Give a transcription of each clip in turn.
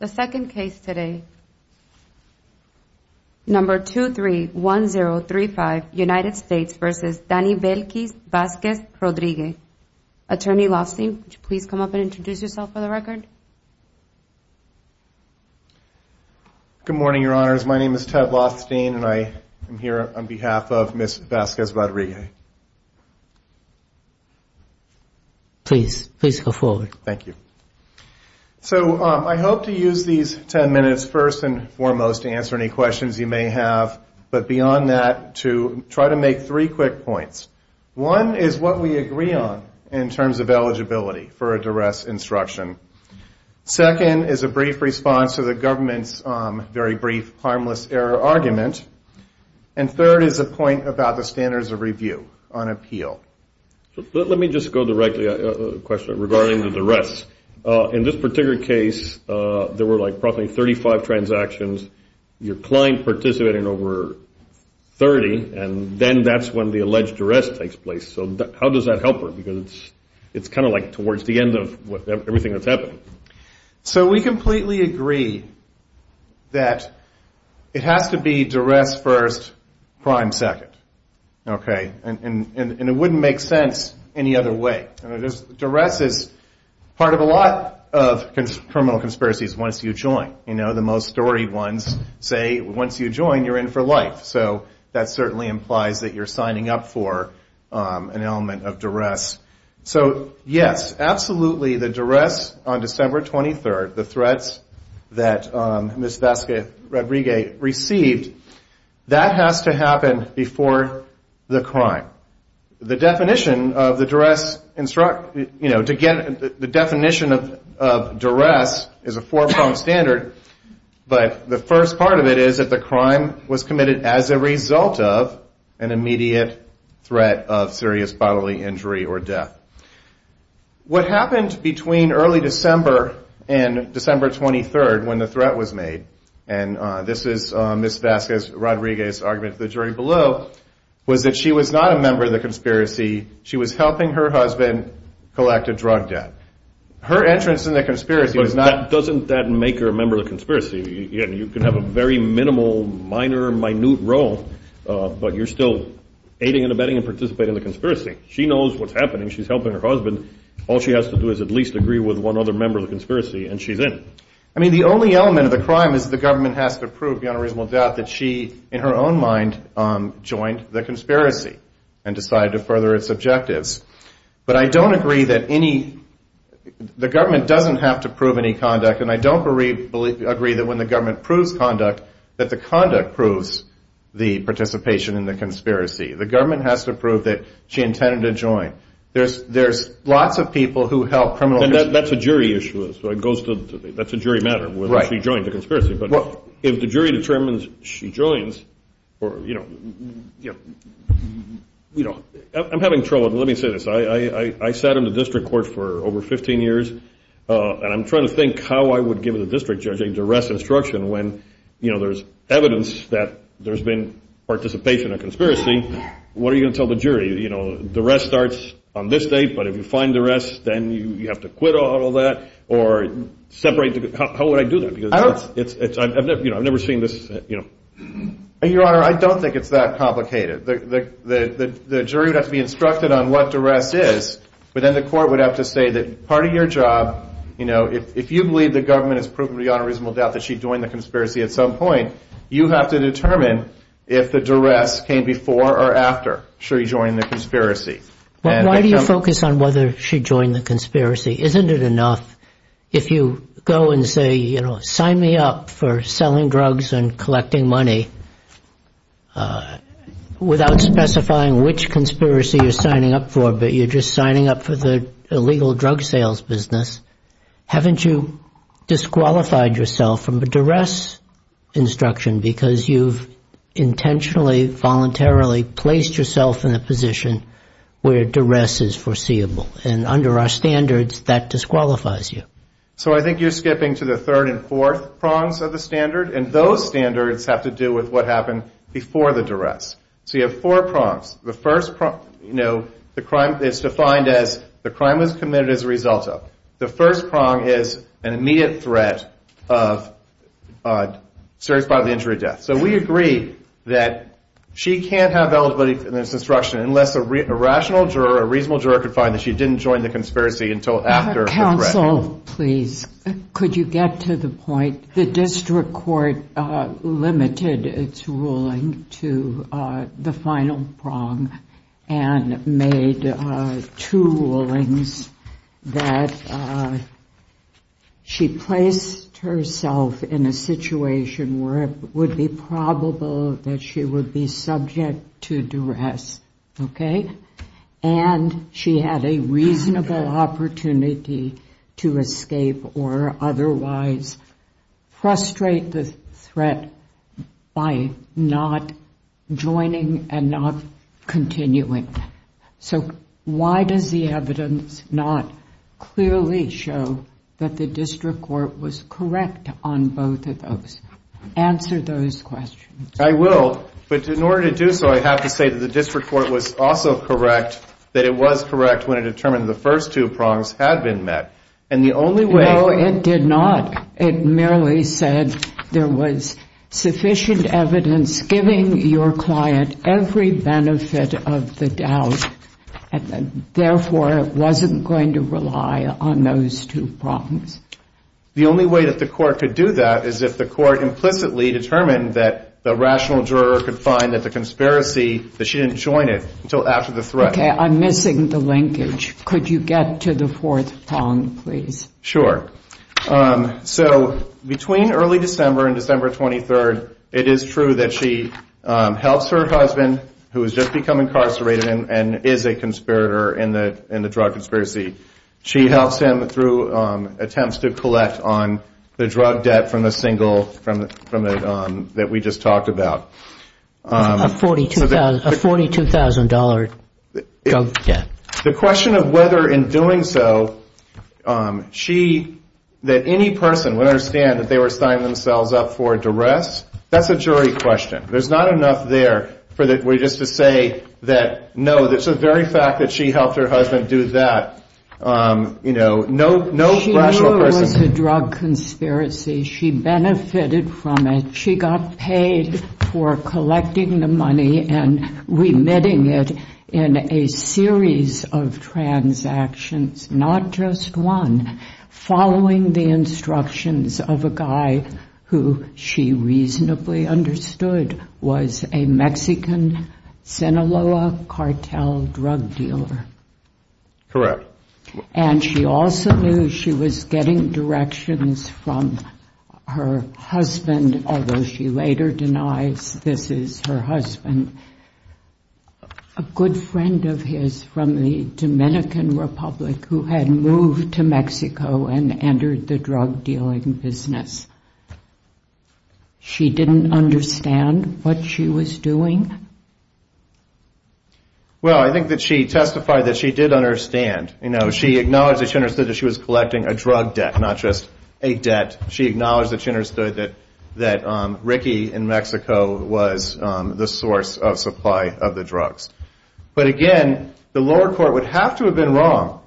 The second case today, number 231035, United States v. Danny Velkez-Vasquez-Rodrigue. Attorney Loftstein, would you please come up and introduce yourself for the record? Good morning, your honors. My name is Ted Loftstein, and I am here on behalf of Ms. Vasquez-Rodrigue. Please, please go forward. Thank you. So, I hope to use these ten minutes first and foremost to answer any questions you may have, but beyond that, to try to make three quick points. One is what we agree on in terms of eligibility for a duress instruction. Second is a brief response to the government's very brief harmless error argument. And third is a point about the standards of review on appeal. Let me just go directly to a question regarding the duress. In this particular case, there were like probably 35 transactions. Your client participated in over 30, and then that's when the alleged duress takes place. So, how does that help her? Because it's kind of like towards the end of everything that's happened. So, we completely agree that it has to be duress first, crime second. Okay? And it wouldn't make sense any other way. Duress is part of a lot of criminal conspiracies once you join. You know, the most storied ones say once you join, you're in for life. So, that certainly implies that you're signing up for an element of duress. So, yes, absolutely, the duress on December 23rd, the threats that Ms. Vasquez-Rodriguez received, that has to happen before the crime. The definition of duress is a four-pronged standard, but the first part of it is that the crime was committed as a result of an immediate threat of serious bodily injury or death. What happened between early December and December 23rd, when the threat was made, and this is Ms. Vasquez-Rodriguez's argument to the jury below, was that she was not a member of the conspiracy. She was helping her husband collect a drug debt. Her entrance in the conspiracy was not... Doesn't that make her a member of the conspiracy? You can have a very minimal, minor, minute role, but you're still aiding and abetting and participating in the conspiracy. She knows what's happening. She's helping her husband. All she has to do is at least agree with one other member of the conspiracy, and she's in. I mean, the only element of the crime is that the government has to prove, beyond a reasonable doubt, that she, in her own mind, joined the conspiracy and decided to further its objectives. But I don't agree that any... The government doesn't have to prove any conduct, and I don't agree that when the government proves conduct, that the conduct proves the participation in the conspiracy. The government has to prove that she intended to join. There's lots of people who help criminal... And that's a jury issue. That's a jury matter, whether she joined the conspiracy. But if the jury determines she joins, or, you know... I'm having trouble. Let me say this. I sat in the district court for over 15 years, and I'm trying to think how I would give the district judge a duress instruction when, you know, there's evidence that there's been participation in a conspiracy. What are you going to tell the jury? You know, duress starts on this date, but if you find duress, then you have to quit all that, or separate... How would I do that? Because it's... I've never seen this, you know... Your Honor, I don't think it's that complicated. The jury would have to be instructed on what duress is, but then the court would have to say that part of your job, you know, if you believe the government has proven beyond a reasonable doubt that she joined the conspiracy at some point, you have to determine if the duress came before or after she joined the conspiracy. But why do you focus on whether she joined the conspiracy? Isn't it enough if you go and say, you know, sign me up for selling drugs and collecting money, without specifying which conspiracy you're signing up for, but you're just signing up for the illegal drug sales business? Haven't you disqualified yourself from a duress instruction because you've intentionally, voluntarily placed yourself in a position where duress is foreseeable? And under our standards, that disqualifies you. So I think you're skipping to the third and fourth prongs of the standard, and those standards have to do with what happened before the duress. So you have four prongs. The first prong, you know, the crime is defined as the crime was committed as a result of. The first prong is an immediate threat of serious bodily injury or death. So we agree that she can't have eligibility for this instruction unless a rational juror, a reasonable juror could find that she didn't join the conspiracy until after the threat. Counsel, please, could you get to the point? The district court limited its ruling to the final prong and made two rulings that she placed herself in a situation where it would be probable that she would be subject to duress, okay? And she had a reasonable opportunity to escape or otherwise frustrate the threat by not joining an investigation. And not continuing. So why does the evidence not clearly show that the district court was correct on both of those? Answer those questions. I will. But in order to do so, I have to say that the district court was also correct that it was correct when it determined the first two prongs had been met. And the only way No, it did not. It merely said there was sufficient evidence giving your client every chance of survival. And therefore, it wasn't going to rely on those two prongs. The only way that the court could do that is if the court implicitly determined that the rational juror could find that the conspiracy, that she didn't join it until after the threat. Okay, I'm missing the linkage. Could you get to the fourth prong, please? Sure. So between early December and December 23rd, it is true that she helps her husband who has just become incarcerated and is a conspirator in the drug conspiracy. She helps him through attempts to collect on the drug debt from the single, that we just talked about. A $42,000 drug debt. The question of whether in doing so, she, that any person would understand that they were signing themselves up for duress, that's a jury question. There's not enough there for just to say that, no, the very fact that she helped her husband do that, you know, no rational person She knew it was a drug conspiracy. She benefited from it. She got paid for collecting the money and remitting it in a series of transactions, not just one, following the instructions of a guy who she reasonably understood was a Mexican Sinaloa cartel drug dealer. Correct. And she also knew she was getting directions from her husband, although she later denies this is her husband, a good friend of his from the Dominican Republic who had moved to Mexico and entered the drug dealing business. She didn't understand what she was doing? Well, I think that she testified that she did understand. You know, she acknowledged that she understood that she was collecting a drug debt, not just a debt. She acknowledged that she understood that Ricky in Mexico was the source of supply of the drugs. But again, the lower court would have to have been wrong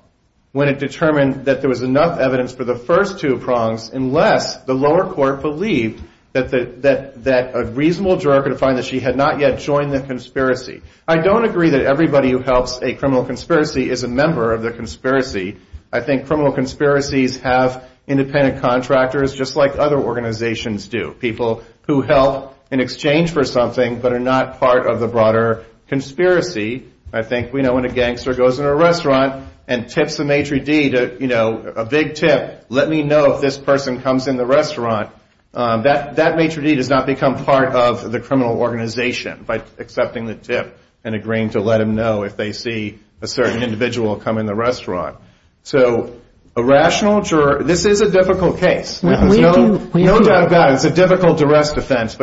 when it determined that there was enough evidence for the first two prongs, unless the lower court believed that a reasonable juror could find that she had not yet joined the conspiracy. I don't agree that everybody who helps a criminal conspiracy is a member of the conspiracy. I think criminal conspiracies have independent contractors, just like other organizations do, people who help in exchange for something but are not part of the broader conspiracy. I think we know when a gangster goes in a restaurant and tips a maitre d' a big tip, let me know if this person comes in the restaurant, that maitre d' does not become part of the criminal organization by accepting the tip and agreeing to let them know if they see a certain individual come in the restaurant. So a rational juror, this is a difficult case. There's no doubt about it. It's a difficult arrest offense.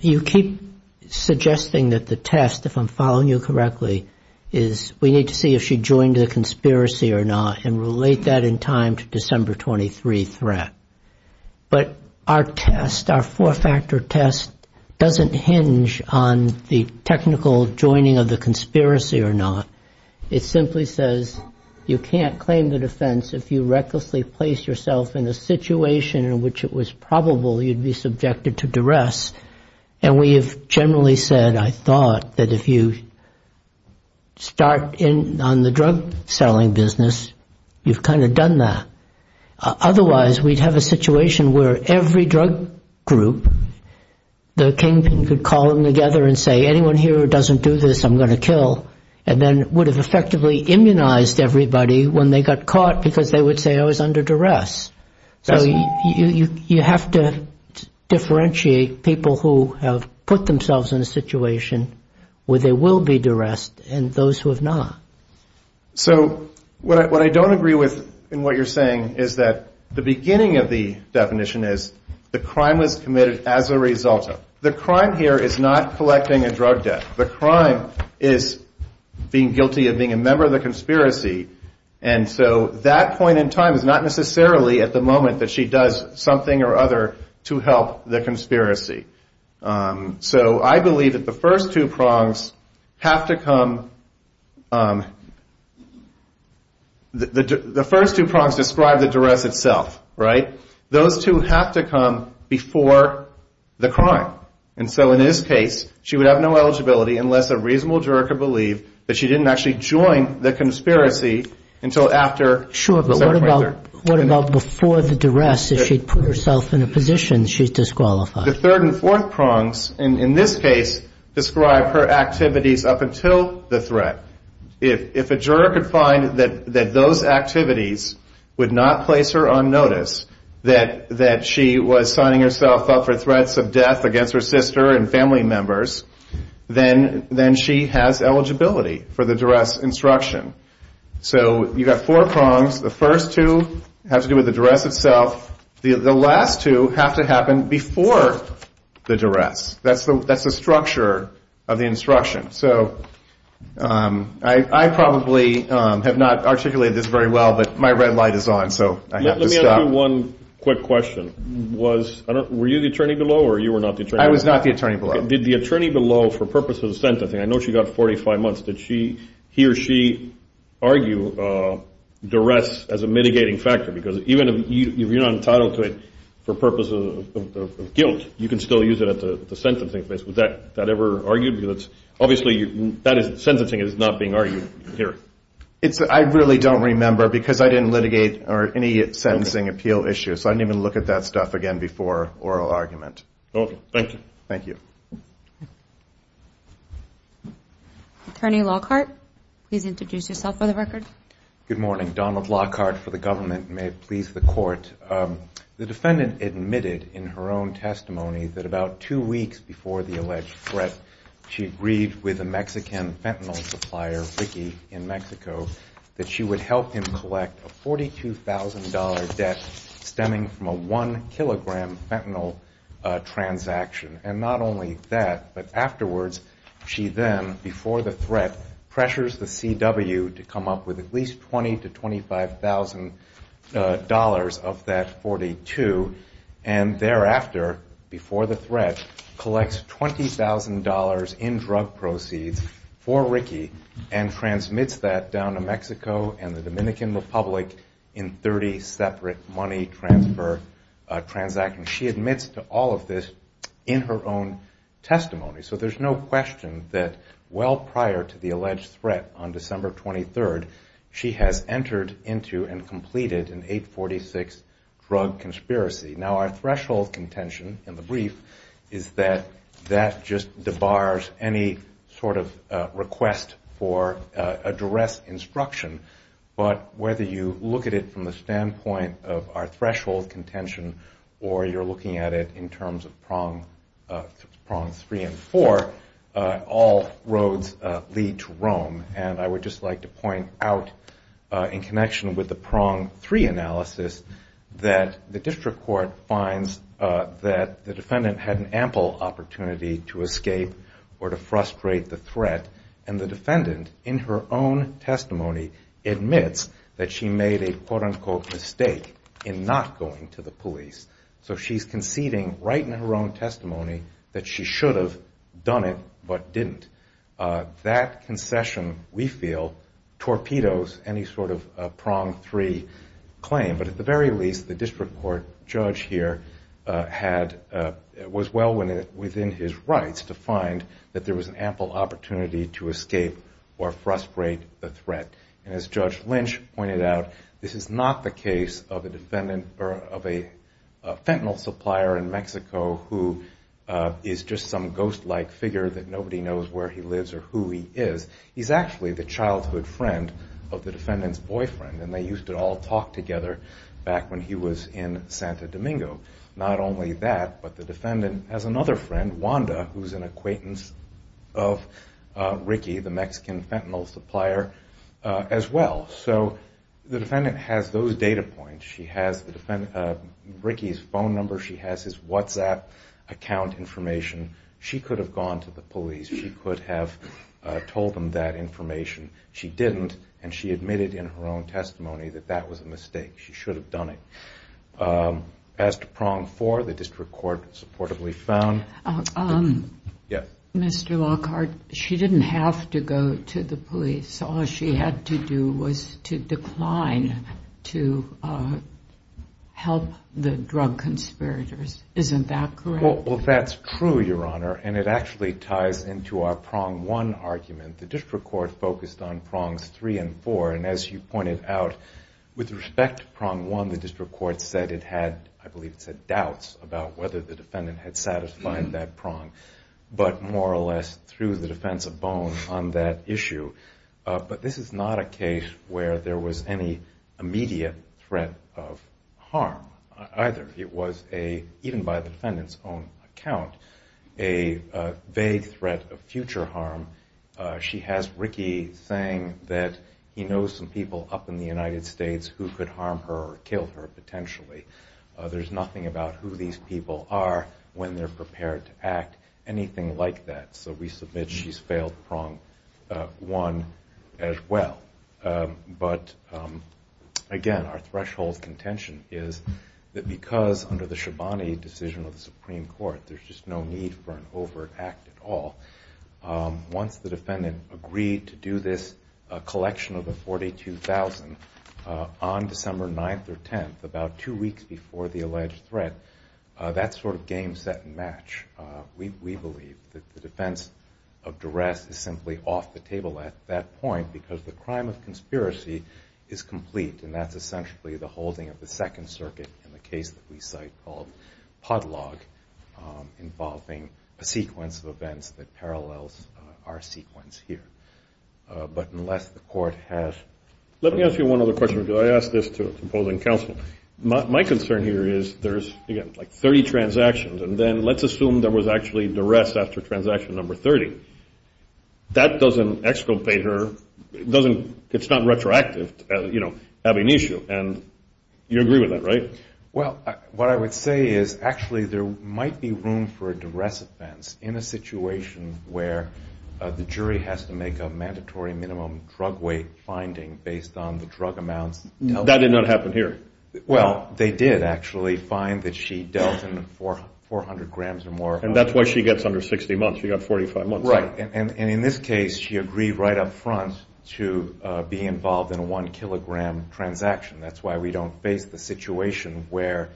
You keep suggesting that the test, if I'm following you correctly, is we need to see if she joined the conspiracy or not and relate that in time to December 23 threat. But our test, our four-factor test, doesn't hinge on the technical joining of the conspiracy or not. It simply says you can't claim the defense if you recklessly place yourself in a situation in which it was probable you'd be subjected to duress. And we have generally said I thought that if you start on the drug selling business, you've kind of done that. Otherwise we'd have a situation where every drug group, the kingpin could call them together and say anyone here who doesn't do this, I'm going to kill, and then would have effectively immunized everybody when they got caught because they would say I was under duress. So you have to differentiate people who have put themselves in a situation where they will be duressed and those who have not. So what I don't agree with in what you're saying is that the beginning of the definition is the crime was committed as a result of. The crime here is not collecting a drug debt. The crime is being guilty of being a member of the conspiracy. And so that point in time is not necessarily at the moment that she does something or other to help the conspiracy. So I believe that the first two prongs have to come, the first two prongs describe the duress itself, right? Those two have to come before the crime. And so in this case, she would have no eligibility unless a reasonable juror could believe that she didn't actually join the conspiracy until after. Sure, but what about before the duress if she'd put herself in a position she's disqualified? The third and fourth prongs in this case describe her activities up until the threat. If a juror could find that those activities would not place her on notice, that she was signing herself up for threats of death against her sister and family members, then she has eligibility for the duress instruction. So you've got four prongs. The first two have to do with the duress itself. The last two have to happen before the duress. That's the structure of the instruction. So I probably have not articulated this very well, but my red light is on, so I have to stop. I have one quick question. Were you the attorney below, or you were not the attorney below? I was not the attorney below. Did the attorney below, for purposes of sentencing, I know she got 45 months, did she, he or she argue duress as a mitigating factor? Because even if you're not entitled to it for purposes of guilt, you can still use it at the sentencing place. Was that ever argued? Obviously, sentencing is not being argued here. I really don't remember, because I didn't litigate or any sentencing appeal issue, so I didn't even look at that stuff again before oral argument. Okay, thank you. Thank you. Attorney Lockhart, please introduce yourself for the record. Good morning. Donald Lockhart for the government, and may it please the Court. The defendant admitted in her own testimony that about two weeks before the alleged threat, she agreed with a Mexican fentanyl supplier, Ricky, in Mexico, that she would help him collect a $42,000 debt stemming from a one-kilogram fentanyl transaction. And not only that, but afterwards, she then, before the threat, pressures the CW to come up with at least $20,000-$25,000 of that $42,000, and thereafter, before the threat, collects $20,000 in drug proceeds for Ricky and transmits that down to Mexico and the Dominican Republic in 30 separate money transfer transactions. She admits to all of this in her own testimony, so there's no question that well prior to the alleged threat on December 23rd, she has entered into and completed an 846 drug conspiracy. Now our threshold contention in the brief is that that just debars any sort of request for a duress instruction, but whether you look at it from the standpoint of our threshold contention or you're looking at it in terms of prongs three and four, all roads lead to Rome, and I would just like to point out in connection with the prong three analysis that the district court finds that the defendant had an ample opportunity to escape or to frustrate the threat, and the defendant in her own testimony admits that she made a quote-unquote mistake in not going to the police. So she's conceding right in her own testimony that she should have done it but didn't. That concession, we feel, torpedoes any sort of prong three claim, but at the very least the district court judge here was well within his rights to find that there was an ample opportunity to escape or frustrate the threat, and as Judge Lynch pointed out, this is not the case of a fentanyl supplier in Mexico who is just some ghost-like figure that nobody knows where he lives or who he is. He's actually the childhood friend of the defendant's boyfriend, and they used to all talk together back when he was in Santa Domingo. Not only that, but the defendant has another friend, Wanda, who's an acquaintance of Ricky, the Mexican fentanyl supplier, as well. So the defendant has those data points. She has Ricky's phone number. She has his WhatsApp account information. She could have gone to the police. She could have told them that information. She didn't, and she admitted in her own testimony that that was a mistake. She should have done it. As to prong four, the district court supportably found. Yes? Mr. Lockhart, she didn't have to go to the police. All she had to do was to decline to help the drug conspirators. Isn't that correct? Well, that's true, Your Honor, and it actually ties into our prong one argument. The district court focused on prongs three and four, and as you pointed out, with respect to prong one, the district court said it had, I believe it said doubts about whether the defendant had satisfied that prong, but more or less threw the defense above on that issue. But this is not a case where there was any immediate threat of harm either. It was a, even by the prong account, a vague threat of future harm. She has Ricky saying that he knows some people up in the United States who could harm her or kill her potentially. There's nothing about who these people are when they're prepared to act, anything like that. So we submit she's failed prong one as well. But again, our threshold contention is that because under the Shabani decision of the Supreme Court, there's just no need for an overt act at all. Once the defendant agreed to do this collection of the $42,000 on December 9th or 10th, about two weeks before the alleged threat, that sort of game set and match, we believe. The defense of duress is simply off the table at that point because the crime of conspiracy is complete, and that's essentially the holding of the Second Circuit in the case that we have a pod log involving a sequence of events that parallels our sequence here. But unless the court has... Let me ask you one other question. I asked this to a composing counsel. My concern here is there's, again, like 30 transactions, and then let's assume there was actually duress after transaction number 30. That doesn't exculpate her. It's not retroactive having an issue, and you agree with that, right? Well, what I would say is actually there might be room for a duress offense in a situation where the jury has to make a mandatory minimum drug weight finding based on the drug amounts dealt with. That did not happen here. Well, they did actually find that she dealt in 400 grams or more... And that's why she gets under 60 months. She got 45 months. Right. And in this case, she agreed right up front to be involved in a 1 kilogram transaction. That's why we don't face the situation where...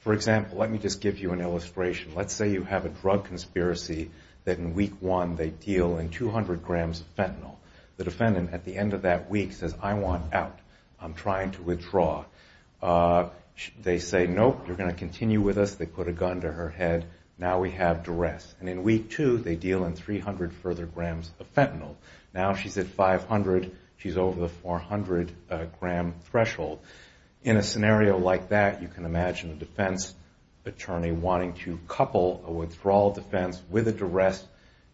For example, let me just give you an illustration. Let's say you have a drug conspiracy that in Week 1 they deal in 200 grams of fentanyl. The defendant at the end of that week says, I want out. I'm trying to withdraw. They say, nope, you're going to continue with us. They put a gun to her head. Now we have duress. And in Week 2, they deal in 300 further grams of fentanyl. Now she's at 500. She's over the 400 gram threshold. In a scenario like that, you can imagine a defense attorney wanting to couple a withdrawal defense with a duress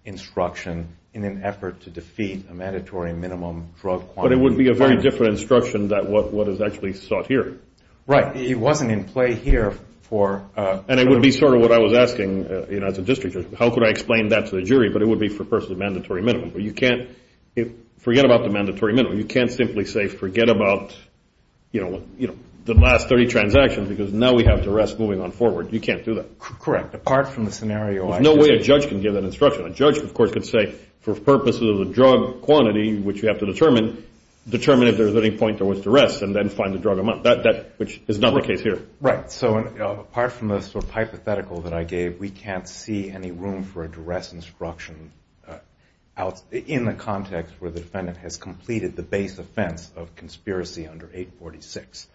instruction in an effort to defeat a mandatory minimum drug quantity finding. But it would be a very different instruction than what is actually sought here. Right. It wasn't in play here for... And it would be sort of what I was asking as a district judge. How could I explain that to the jury? But it would be for a person with a mandatory minimum. You can't... Forget about the mandatory minimum. You can't simply say, forget about the last 30 transactions because now we have duress moving on forward. You can't do that. Correct. Apart from the scenario... There's no way a judge can give that instruction. A judge, of course, could say, for purposes of the drug quantity, which you have to determine, determine if there's any point there was duress and then find the drug amount, which is not the case here. Right. So apart from the sort of hypothetical that I gave, we can't see any room for a duress instruction in the context where the defendant has completed the base offense of conspiracy under 846.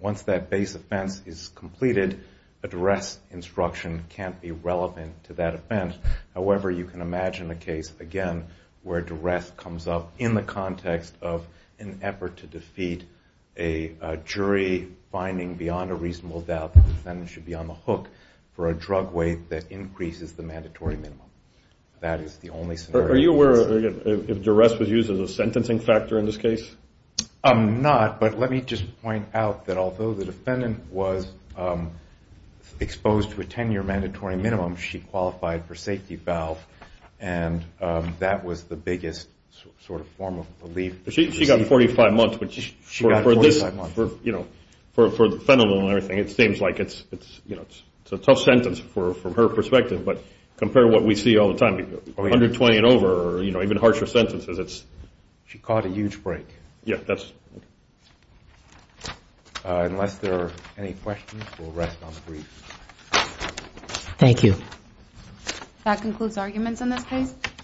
Once that base offense is completed, a duress instruction can't be relevant to that offense. However, you can imagine a case, again, where a duress comes up in the context of an effort to defeat a jury finding beyond a reasonable doubt that the defendant should be on the hook for a drug weight that increases the mandatory minimum. That is the only scenario. Are you aware if duress was used as a sentencing factor in this case? I'm not, but let me just point out that although the defendant was exposed to a 10-year mandatory minimum, she qualified for safety valve and that was the biggest sort of form of relief. She got 45 months, but for this, for, you know, for fentanyl and everything, it seems like it's, you know, it's a tough sentence from her perspective, but compare what we see all the time, 120 and over, or, you know, even harsher sentences, it's... She caught a huge break. Yeah, that's... Unless there are any questions, we'll rest on three. Thank you. That concludes arguments on this case.